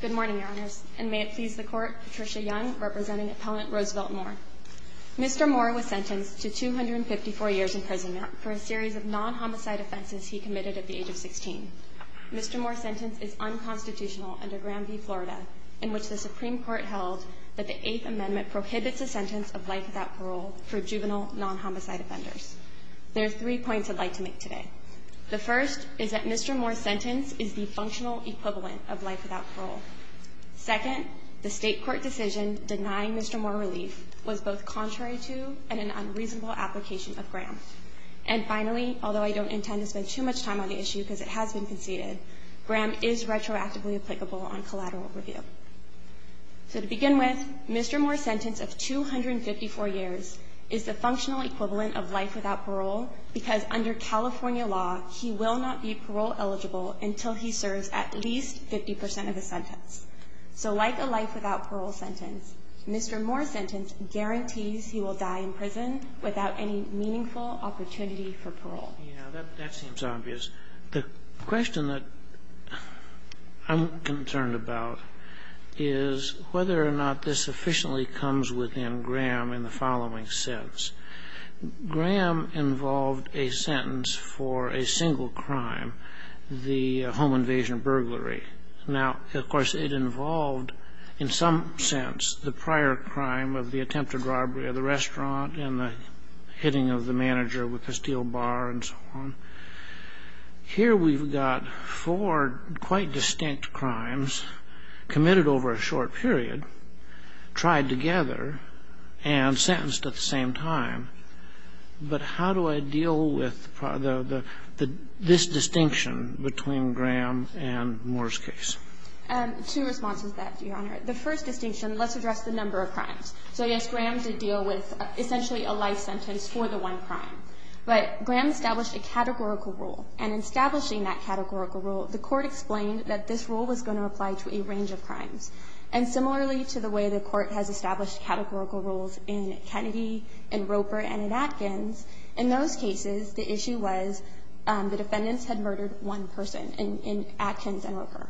Good morning, Your Honors, and may it please the Court, Patricia Young representing Appellant Roosevelt Moore. Mr. Moore was sentenced to 254 years in prison for a series of non-homicide offenses he committed at the age of 16. Mr. Moore's sentence is unconstitutional under Graham v. Florida, in which the Supreme Court held that the Eighth Amendment prohibits a sentence of life without parole for juvenile non-homicide offenders. There are three points I'd like to make today. The first is that Mr. Moore's sentence is the functional equivalent of life without parole. Second, the State Court decision denying Mr. Moore relief was both contrary to and an unreasonable application of Graham. And finally, although I don't intend to spend too much time on the issue because it has been conceded, Graham is retroactively applicable on collateral review. So to begin with, Mr. Moore's sentence of 254 years is the functional equivalent of life without parole because under California law, he will not be parole eligible until he serves at least 50 percent of the sentence. So like a life without parole sentence, Mr. Moore's sentence guarantees he will die in prison without any meaningful opportunity for parole. Yeah, that seems obvious. The question that I'm concerned about is whether or not this sufficiently comes within Graham in the following sense. Graham involved a sentence for a single crime, the home invasion burglary. Now, of course, it involved in some sense the prior crime of the attempted robbery of the restaurant and the hitting of the manager with a steel bar and so on. Here we've got four quite distinct crimes committed over a short period, tried together, and sentenced at the same time. But how do I deal with this distinction between Graham and Moore's case? Two responses to that, Your Honor. The first distinction, let's address the number of crimes. So, yes, Graham did deal with essentially a life sentence for the one crime. But Graham established a categorical rule. And in establishing that categorical rule, the Court explained that this rule was going to apply to a range of crimes. And similarly to the way the Court has established categorical rules in Kennedy, in Roper, and in Atkins, in those cases the issue was the defendants had murdered one person in Atkins and Roper.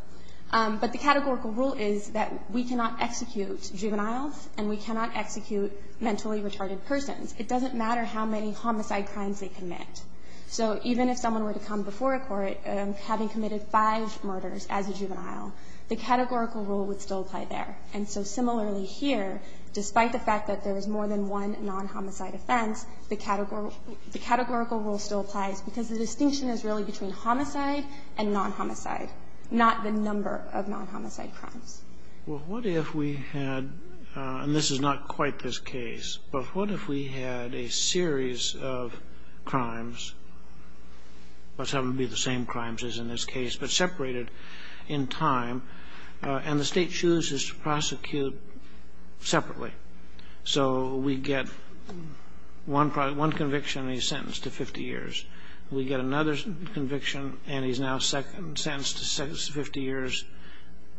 But the categorical rule is that we cannot execute juveniles and we cannot execute mentally retarded persons. It doesn't matter how many homicide crimes they commit. So even if someone were to come before a court having committed five murders as a juvenile, the categorical rule would still apply there. And so similarly here, despite the fact that there was more than one non-homicide offense, the categorical rule still applies because the distinction is really between homicide and non-homicide, not the number of non-homicide crimes. Well, what if we had, and this is not quite this case, but what if we had a series of crimes, let's have them be the same crimes as in this case, but separated in time, and the State chooses to prosecute separately. So we get one conviction and he's sentenced to 50 years. We get another conviction and he's now sentenced to 50 years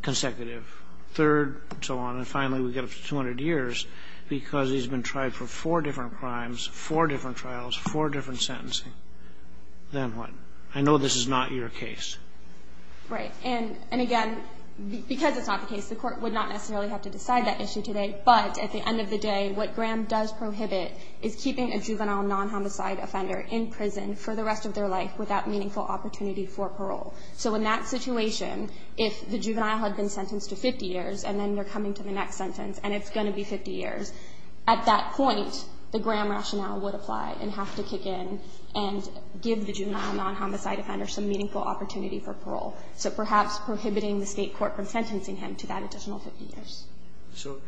consecutive. Third, so on, and finally we get up to 200 years because he's been tried for four different crimes, four different trials, four different sentencing. Then what? I know this is not your case. Right. And again, because it's not the case, the Court would not necessarily have to decide that issue today. But at the end of the day, what Graham does prohibit is keeping a juvenile non-homicide offender in prison for the rest of their life without meaningful opportunity for parole. So in that situation, if the juvenile had been sentenced to 50 years and then they're coming to the next sentence and it's going to be 50 years, at that point, the Graham rationale would apply and have to kick in and give the juvenile non-homicide offender some meaningful opportunity for parole. So perhaps prohibiting the State court from sentencing him to that additional 50 years. So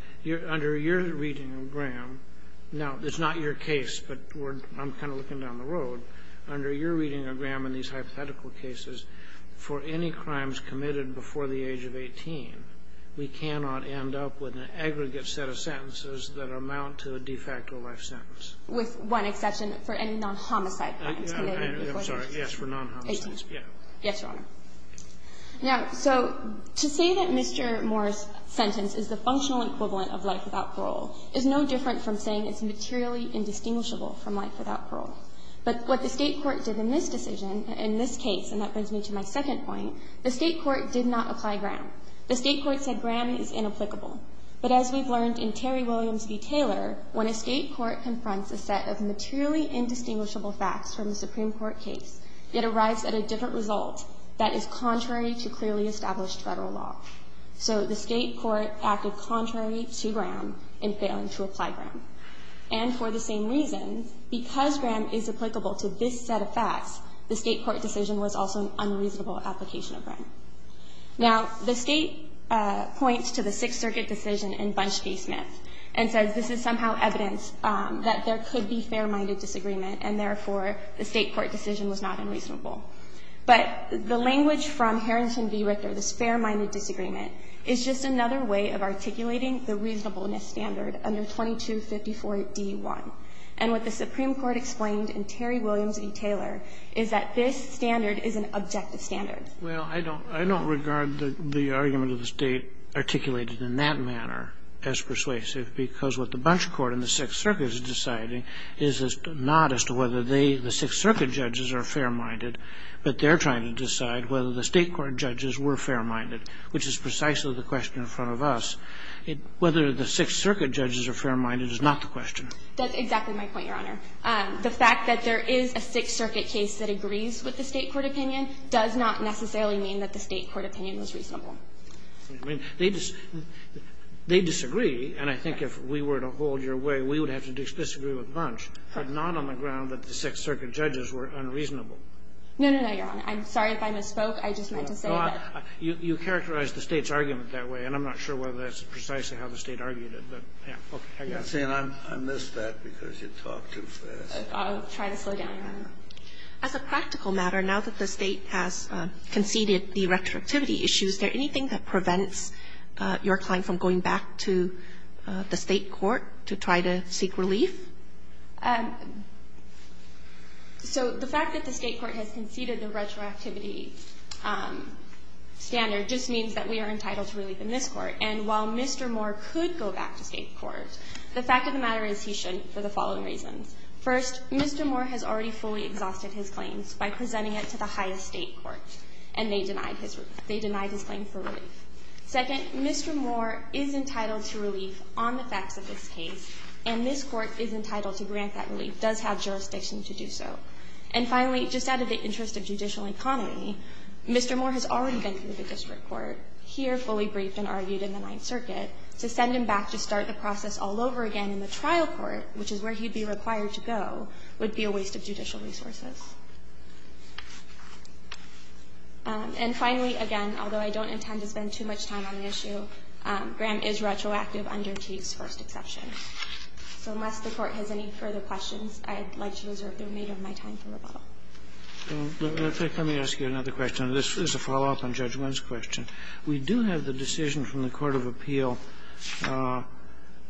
under your reading of Graham, now it's not your case, but I'm kind of looking down the road, under your reading of Graham in these hypothetical cases, for any crimes committed before the age of 18, we cannot end up with an aggregate set of sentences that amount to a de facto life sentence. With one exception, for any non-homicide crimes committed before the age of 18. I'm sorry. Yes, for non-homicides. Yes, Your Honor. Now, so to say that Mr. Morris's sentence is the functional equivalent of life without parole is no different from saying it's materially indistinguishable from life without parole. But what the State court did in this decision, in this case, and that brings me to my second point, the State court did not apply Graham. The State court said Graham is inapplicable. But as we've learned in Terry Williams v. Taylor, when a State court confronts a set of materially indistinguishable facts from a Supreme Court case, it arrives at a different result that is contrary to clearly established Federal law. So the State court acted contrary to Graham in failing to apply Graham. And for the same reason, because Graham is applicable to this set of facts, the State court decision was also an unreasonable application of Graham. Now, the State points to the Sixth Circuit decision in Bunch v. Smith and says this is somehow evidence that there could be fair-minded disagreement, and therefore the State court decision was not unreasonable. But the language from Harrington v. Richter, this fair-minded disagreement, is just another way of articulating the reasonableness standard under 2254d-1. And what the Supreme Court explained in Terry Williams v. Taylor is that this standard is an objective standard. Well, I don't regard the argument of the State articulated in that manner as persuasive, because what the Bunch court and the Sixth Circuit is deciding is not as to whether they, the Sixth Circuit judges, are fair-minded, but they're trying to decide whether the State court judges were fair-minded, which is precisely the question in front of us. Whether the Sixth Circuit judges are fair-minded is not the question. That's exactly my point, Your Honor. The fact that there is a Sixth Circuit case that agrees with the State court opinion does not necessarily mean that the State court opinion was reasonable. I mean, they disagree, and I think if we were to hold your way, we would have to disagree with Bunch, but not on the ground that the Sixth Circuit judges were unreasonable. No, no, no, Your Honor. I'm sorry if I misspoke. I just meant to say that. You characterized the State's argument that way, and I'm not sure whether that's precisely how the State argued it, but, yeah, okay, I got it. I'm saying I missed that because you talked too fast. I'll try to slow down. As a practical matter, now that the State has conceded the retroactivity issues, is there anything that prevents your client from going back to the State court to try to seek relief? So the fact that the State court has conceded the retroactivity standard just means that we are entitled to relief in this Court. And while Mr. Moore could go back to State court, the fact of the matter is he shouldn't for the following reasons. First, Mr. Moore has already fully exhausted his claims by presenting it to the highest State court, and they denied his claim for relief. Second, Mr. Moore is entitled to relief on the facts of this case, and this Court is entitled to grant that relief, does have jurisdiction to do so. And finally, just out of the interest of judicial economy, Mr. Moore has already been through the district court. Here, fully briefed and argued in the Ninth Circuit, to send him back to start the process all over again in the trial court, which is where he'd be required to go, would be a waste of judicial resources. And finally, again, although I don't intend to spend too much time on the issue, Graham is retroactive under Teague's first exception. So unless the Court has any further questions, I'd like to reserve the remainder of my time for rebuttal. Sotomayor, let me ask you another question. This is a follow-up on Judge Wynn's question. We do have the decision from the court of appeal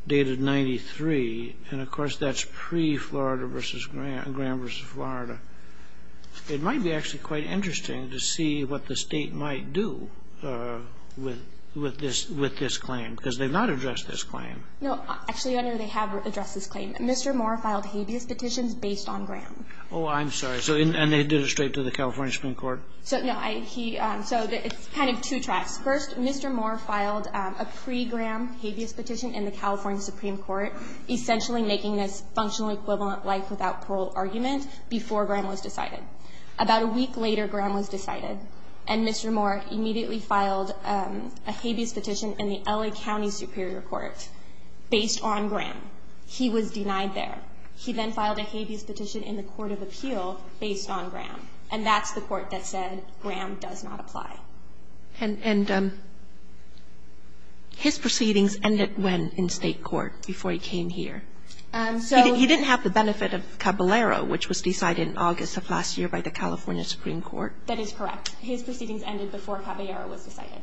dated 93, and, of course, that's pre-Florida v. Graham v. Florida. It might be actually quite interesting to see what the State might do with this claim, because they've not addressed this claim. No, actually, Your Honor, they have addressed this claim. Mr. Moore filed habeas petitions based on Graham. Oh, I'm sorry. And they did it straight to the California Supreme Court? No. So it's kind of two tracks. First, Mr. Moore filed a pre-Graham habeas petition in the California Supreme Court, essentially making this functional equivalent life without parole argument before Graham was decided. About a week later, Graham was decided, and Mr. Moore immediately filed a habeas petition in the L.A. County Superior Court based on Graham. He was denied there. He then filed a habeas petition in the court of appeal based on Graham, and that's the court that said Graham does not apply. And his proceedings ended when in State court before he came here? He didn't have the benefit of Caballero, which was decided in August of last year by the California Supreme Court? That is correct. His proceedings ended before Caballero was decided.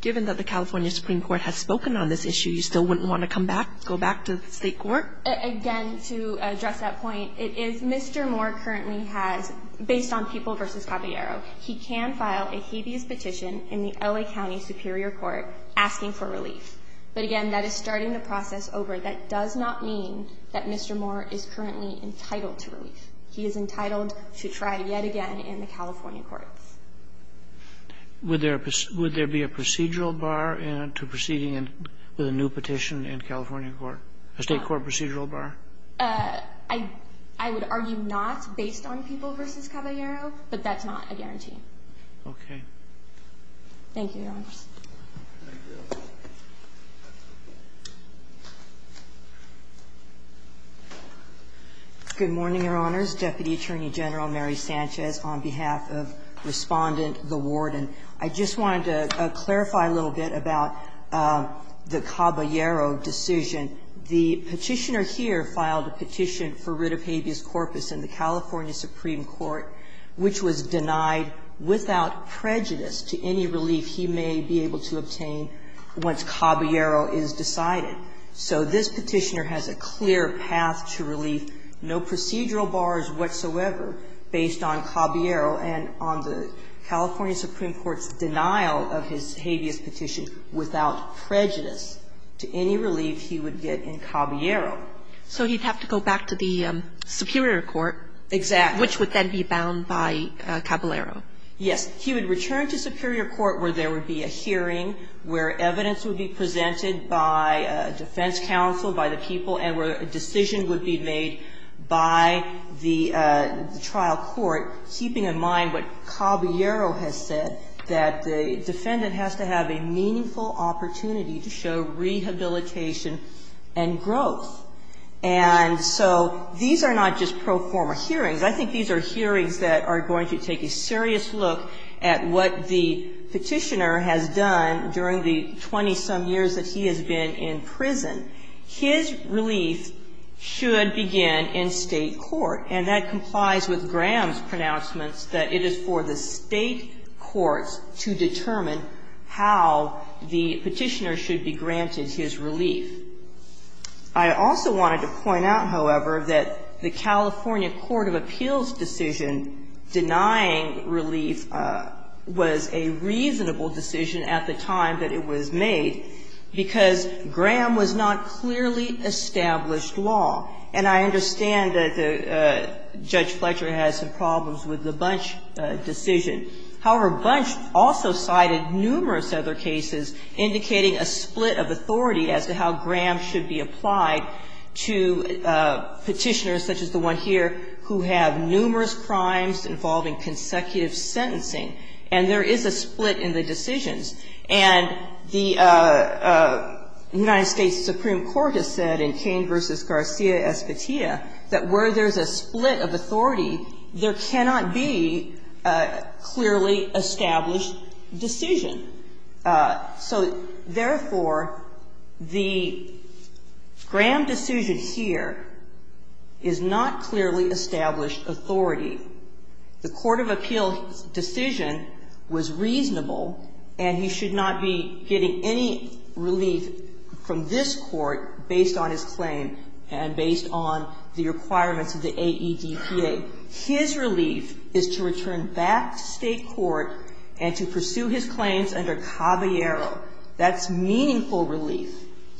Given that the California Supreme Court has spoken on this issue, you still wouldn't want to come back, go back to State court? Again, to address that point, it is Mr. Moore currently has, based on people versus Caballero, he can file a habeas petition in the L.A. County Superior Court asking for relief. But, again, that is starting the process over. That does not mean that Mr. Moore is currently entitled to relief. He is entitled to try yet again in the California courts. Would there be a procedural bar to proceeding with a new petition in California court, a State court procedural bar? I would argue not based on people versus Caballero, but that's not a guarantee. Okay. Thank you, Your Honors. Good morning, Your Honors. Deputy Attorney General Mary Sanchez, on behalf of Respondent, the Warden. I just wanted to clarify a little bit about the Caballero decision. The Petitioner here filed a petition for writ of habeas corpus in the California Supreme Court, and the Petitioner has a clear path to relief, no procedural bars whatsoever based on Caballero and on the California Supreme Court's denial of his habeas petition without prejudice to any relief he would get in Caballero. So he'd have to go back to the Superior Court. Exactly. Which would then be bound by Caballero. Yes. He would return to Superior Court where there would be a hearing, where evidence would be presented by defense counsel, by the people, and where a decision would be made by the trial court, keeping in mind what Caballero has said, that the defendant has to have a meaningful opportunity to show rehabilitation and growth. And so these are not just pro forma hearings. I think these are hearings that are going to take a serious look at what the Petitioner has done during the 20-some years that he has been in prison. His relief should begin in State court. And that complies with Graham's pronouncements that it is for the State courts to determine how the Petitioner should be granted his relief. I also wanted to point out, however, that the California Court of Appeals decision denying relief was a reasonable decision at the time that it was made because Graham was not clearly established law. And I understand that Judge Fletcher had some problems with the Bunch decision. However, Bunch also cited numerous other cases indicating a split of authority as to how Graham should be applied to Petitioners, such as the one here, who have numerous crimes involving consecutive sentencing, and there is a split in the decisions. And the United States Supreme Court has said in Cain v. Garcia-Espitia that where there's a split of authority, there cannot be a clearly established decision. So, therefore, the Graham decision here is not clearly established authority. The Court of Appeals decision was reasonable, and he should not be getting any relief from this Court based on his claim and based on the requirements of the AEDPA. And so, therefore, his relief is to return back to State court and to pursue his claims under Caballero. That's meaningful relief.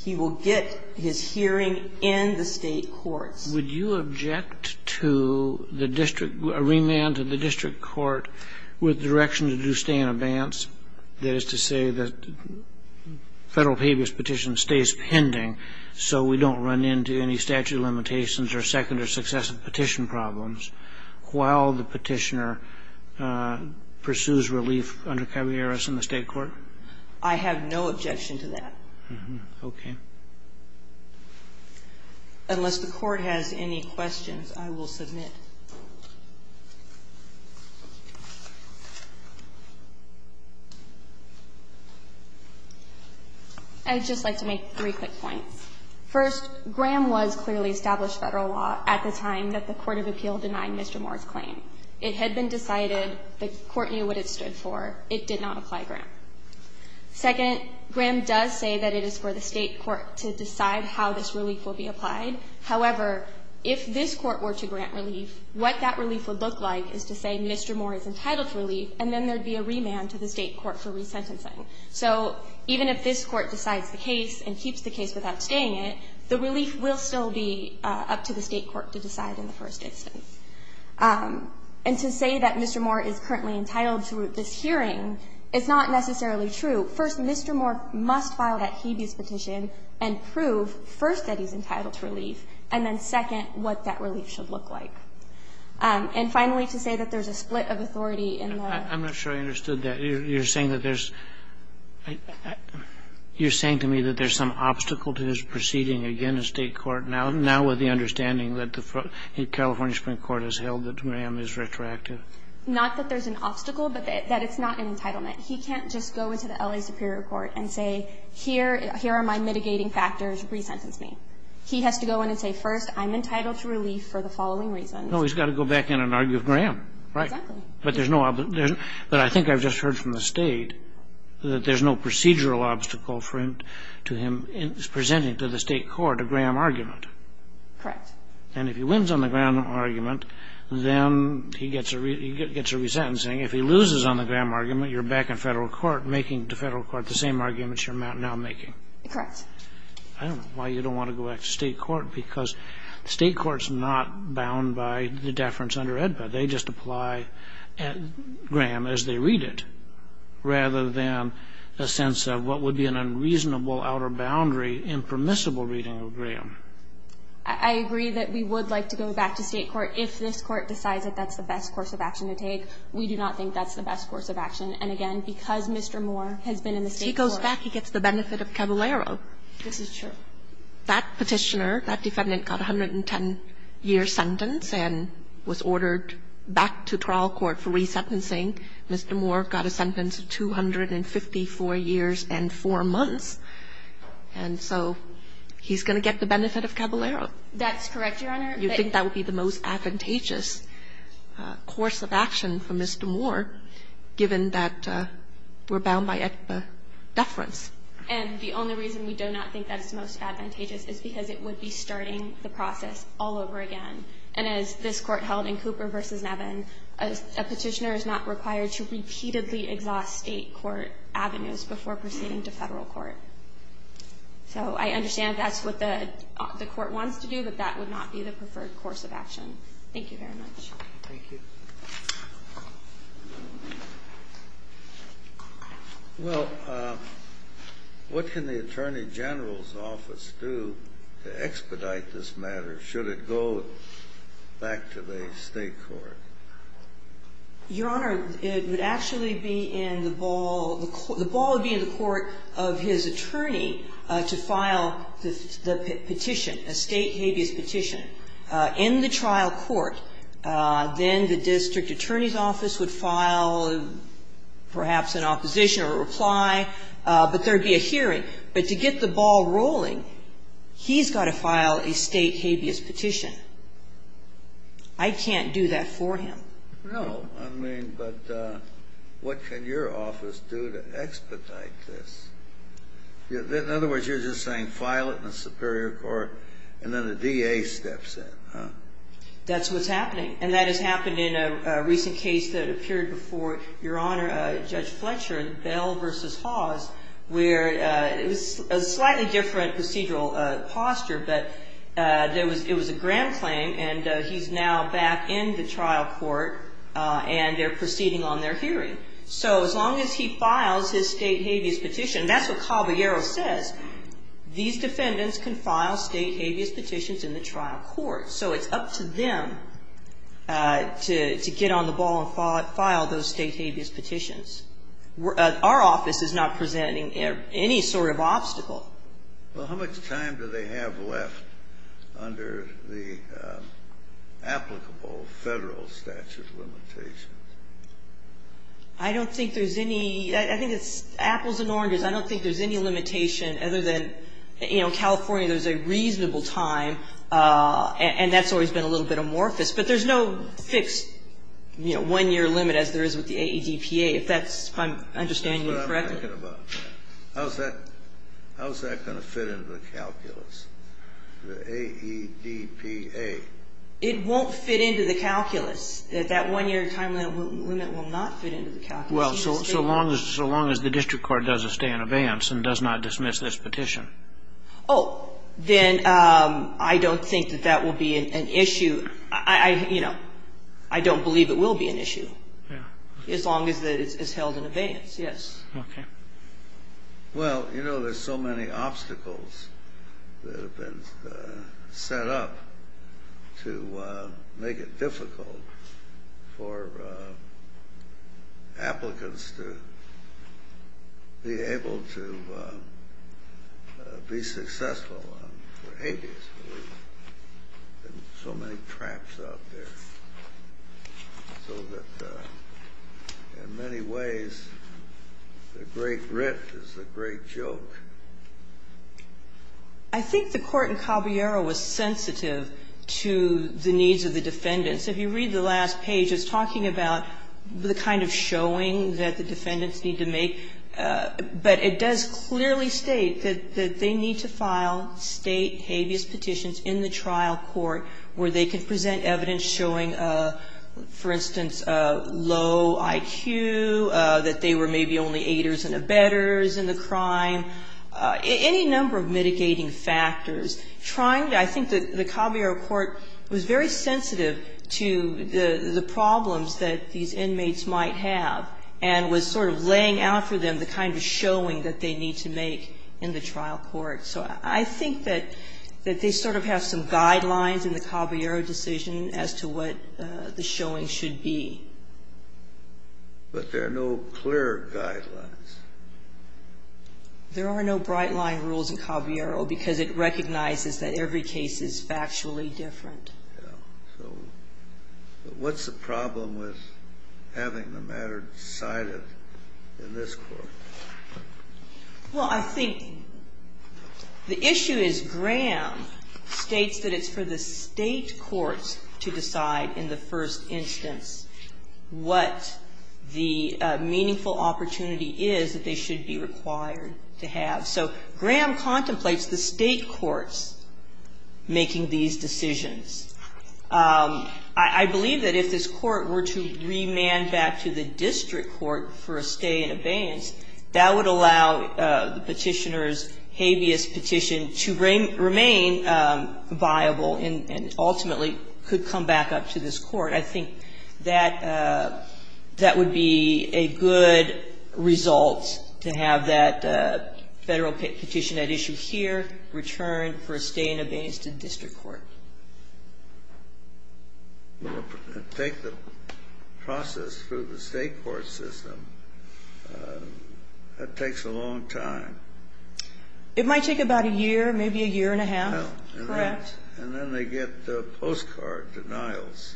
He will get his hearing in the State courts. Kennedy. Would you object to the district, a remand to the district court with direction to do stay in advance, that is to say the Federal Pebus petition stays pending so we don't run into any statute limitations or second or successive petition problems while the petitioner pursues relief under Caballeros in the State court? I have no objection to that. Okay. Unless the Court has any questions, I will submit. I would just like to make three quick points. First, Graham was clearly established Federal law at the time that the Court of Appeals denied Mr. Moore's claim. It had been decided. The Court knew what it stood for. It did not apply Graham. Second, Graham does say that it is for the State court to decide how this relief will be applied. However, if this Court were to grant relief, what that relief would look like is to say Mr. Moore is entitled to relief, and then there would be a remand to the State court for resentencing. So even if this Court decides the case and keeps the case without staying it, the relief will still be up to the State court to decide in the first instance. And to say that Mr. Moore is currently entitled to this hearing is not necessarily the right thing to do. First, Mr. Moore must file that Hebus petition and prove, first, that he's entitled to relief, and then, second, what that relief should look like. And finally, to say that there's a split of authority in the ---- I'm not sure I understood that. You're saying that there's ---- you're saying to me that there's some obstacle to his proceeding against State court now, now with the understanding that the California Supreme Court has held that Graham is retroactive? Not that there's an obstacle, but that it's not an entitlement. He can't just go into the L.A. Superior Court and say, here are my mitigating factors. Resentence me. He has to go in and say, first, I'm entitled to relief for the following reasons. No, he's got to go back in and argue with Graham, right? Exactly. But there's no ---- but I think I've just heard from the State that there's no procedural obstacle for him to him presenting to the State court a Graham argument. Correct. And if he wins on the Graham argument, then he gets a resentencing. If he loses on the Graham argument, you're back in Federal court making the Federal court the same arguments you're now making. Correct. I don't know why you don't want to go back to State court, because State court's not bound by the deference under AEDPA. They just apply Graham as they read it, rather than a sense of what would be an unreasonable outer boundary impermissible reading of Graham. I agree that we would like to go back to State court if this Court decides that that's the best course of action to take. We do not think that's the best course of action. And, again, because Mr. Moore has been in the State court ---- If he goes back, he gets the benefit of Caballero. This is true. That Petitioner, that defendant, got a 110-year sentence and was ordered back to trial court for resentencing. Mr. Moore got a sentence of 254 years and 4 months. And so he's going to get the benefit of Caballero. That's correct, Your Honor. You think that would be the most advantageous course of action for Mr. Moore, given that we're bound by AEDPA deference? And the only reason we do not think that it's most advantageous is because it would be starting the process all over again. And as this Court held in Cooper v. Nevin, a Petitioner is not required to repeatedly exhaust State court avenues before proceeding to Federal court. So I understand that's what the Court wants to do, but that would not be the preferred course of action. Thank you very much. Thank you. Well, what can the Attorney General's office do to expedite this matter, should it go back to the State court? Your Honor, it would actually be in the ball ---- the ball would be in the court of his attorney to file the petition, a State habeas petition, in the trial court. Then the district attorney's office would file perhaps an opposition or a reply. But there would be a hearing. But to get the ball rolling, he's got to file a State habeas petition. I can't do that for him. No. I mean, but what can your office do to expedite this? In other words, you're just saying file it in the Superior Court, and then the DA steps in, huh? That's what's happening. And that has happened in a recent case that appeared before Your Honor, Judge Fletcher, Bell v. Hawes, where it was a slightly different procedural posture. But there was ---- it was a grand claim, and he's now back in the trial court, and they're proceeding on their hearing. So as long as he files his State habeas petition, that's what Caballero says, these defendants can file State habeas petitions in the trial court. So it's up to them to get on the ball and file those State habeas petitions. Our office is not presenting any sort of obstacle. Well, how much time do they have left under the applicable Federal statute limitations? I don't think there's any. I think it's apples and oranges. I don't think there's any limitation other than, you know, California, there's a reasonable time. And that's always been a little bit amorphous. But there's no fixed, you know, one-year limit as there is with the AEDPA, if that's my understanding correctly. That's what I'm asking about. How's that going to fit into the calculus, the AEDPA? It won't fit into the calculus. That one-year time limit will not fit into the calculus. Well, so long as the district court does a stay in advance and does not dismiss this petition. Oh, then I don't think that that will be an issue. I, you know, I don't believe it will be an issue. Yeah. As long as it's held in advance, yes. Okay. Well, you know, there's so many obstacles that have been set up to make it difficult for applicants to be able to be successful for eight years. There's so many traps out there, so that in many ways the great writ is the great joke. I think the court in Caballero was sensitive to the needs of the defendants. If you read the last page, it's talking about the kind of showing that the defendants need to make. But it does clearly state that they need to file State habeas petitions in the trial court where they can present evidence showing, for instance, low IQ, that they were maybe only aiders and abettors in the crime, any number of mitigating factors. Trying to – I think that the Caballero court was very sensitive to the problems that these inmates might have and was sort of laying out for them the kind of showing that they need to make in the trial court. So I think that they sort of have some guidelines in the Caballero decision as to what the showing should be. But there are no clear guidelines. There are no bright-line rules in Caballero because it recognizes that every case is factually different. Yeah. So what's the problem with having the matter decided in this court? Well, I think the issue is Graham states that it's for the State courts to decide in the first instance what the meaningful opportunity is that they should be required to have. So Graham contemplates the State courts making these decisions. I believe that if this court were to remand back to the district court for a stay in abeyance, that would allow the Petitioner's habeas petition to remain viable and ultimately could come back up to this court. I think that would be a good result to have that Federal petition at issue here returned for a stay in abeyance to the district court. Take the process through the State court system. That takes a long time. It might take about a year, maybe a year and a half, correct? And then they get postcard denials.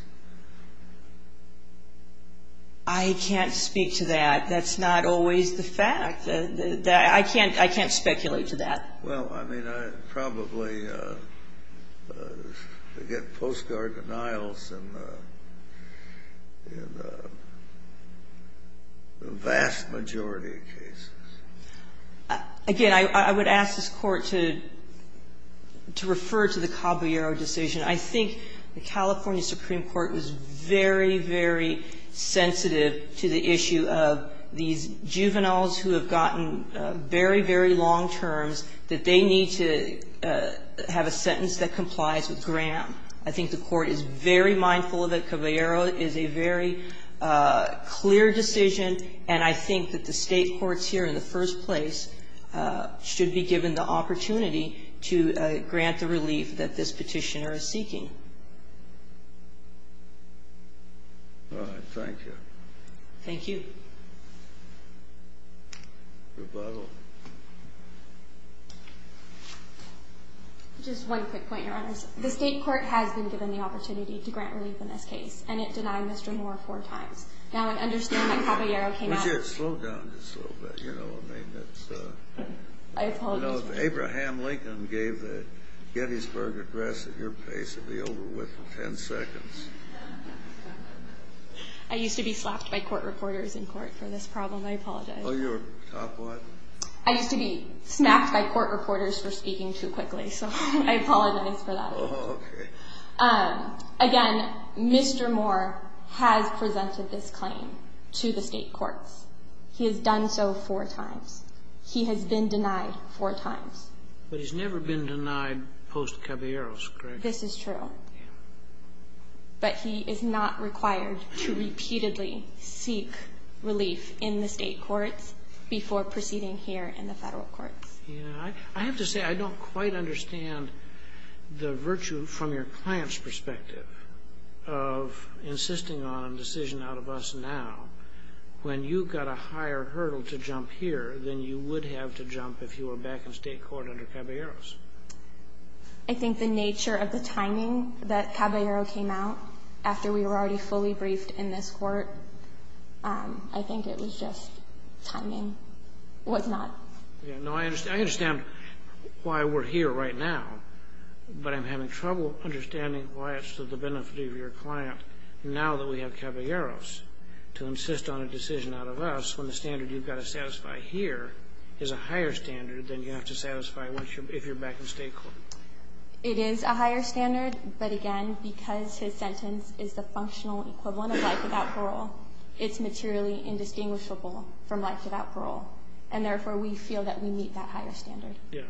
I can't speak to that. That's not always the fact. I can't speculate to that. Well, I mean, probably they get postcard denials in the vast majority of cases. Again, I would ask this Court to refer to the Caballero decision. I think the California Supreme Court was very, very sensitive to the issue of these juveniles who have gotten very, very long terms, that they need to have a sentence that complies with Graham. I think the Court is very mindful that Caballero is a very clear decision, and I think that the State courts here in the first place should be given the opportunity to grant the relief that this petitioner is seeking. All right. Thank you. Thank you. Rebuttal. Just one quick point, Your Honors. The State court has been given the opportunity to grant relief in this case, and it denied Mr. Moore four times. Now, I understand that Caballero came out. Would you slow down just a little bit? You know, I mean, that's a... I apologize. You know, if Abraham Lincoln gave the Gettysburg Address at your pace, it would be over within 10 seconds. I used to be slapped by court reporters in court for this problem. I apologize. Oh, you were top what? I used to be smacked by court reporters for speaking too quickly, so I apologize for that. Oh, okay. Again, Mr. Moore has presented this claim to the State courts. He has done so four times. He has been denied four times. But he's never been denied post-Caballero's, correct? This is true. Yeah. But he is not required to repeatedly seek relief in the State courts before proceeding here in the Federal courts. Yeah. I have to say, I don't quite understand the virtue from your client's perspective of insisting on a decision out of us now when you've got a higher hurdle to jump here than you would have to jump if you were back in State court under Caballero's. I think the nature of the timing that Caballero came out after we were already fully briefed in this court, I think it was just timing was not... No, I understand why we're here right now, but I'm having trouble understanding why it's to the benefit of your client now that we have Caballero's to insist on a decision out of us when the standard you've got to satisfy here is a higher standard than you have to satisfy if you're back in State court. It is a higher standard, but again, because his sentence is the functional equivalent of life without parole, it's materially indistinguishable from life without parole. And therefore, we feel that we meet that higher standard. Yeah. Okay.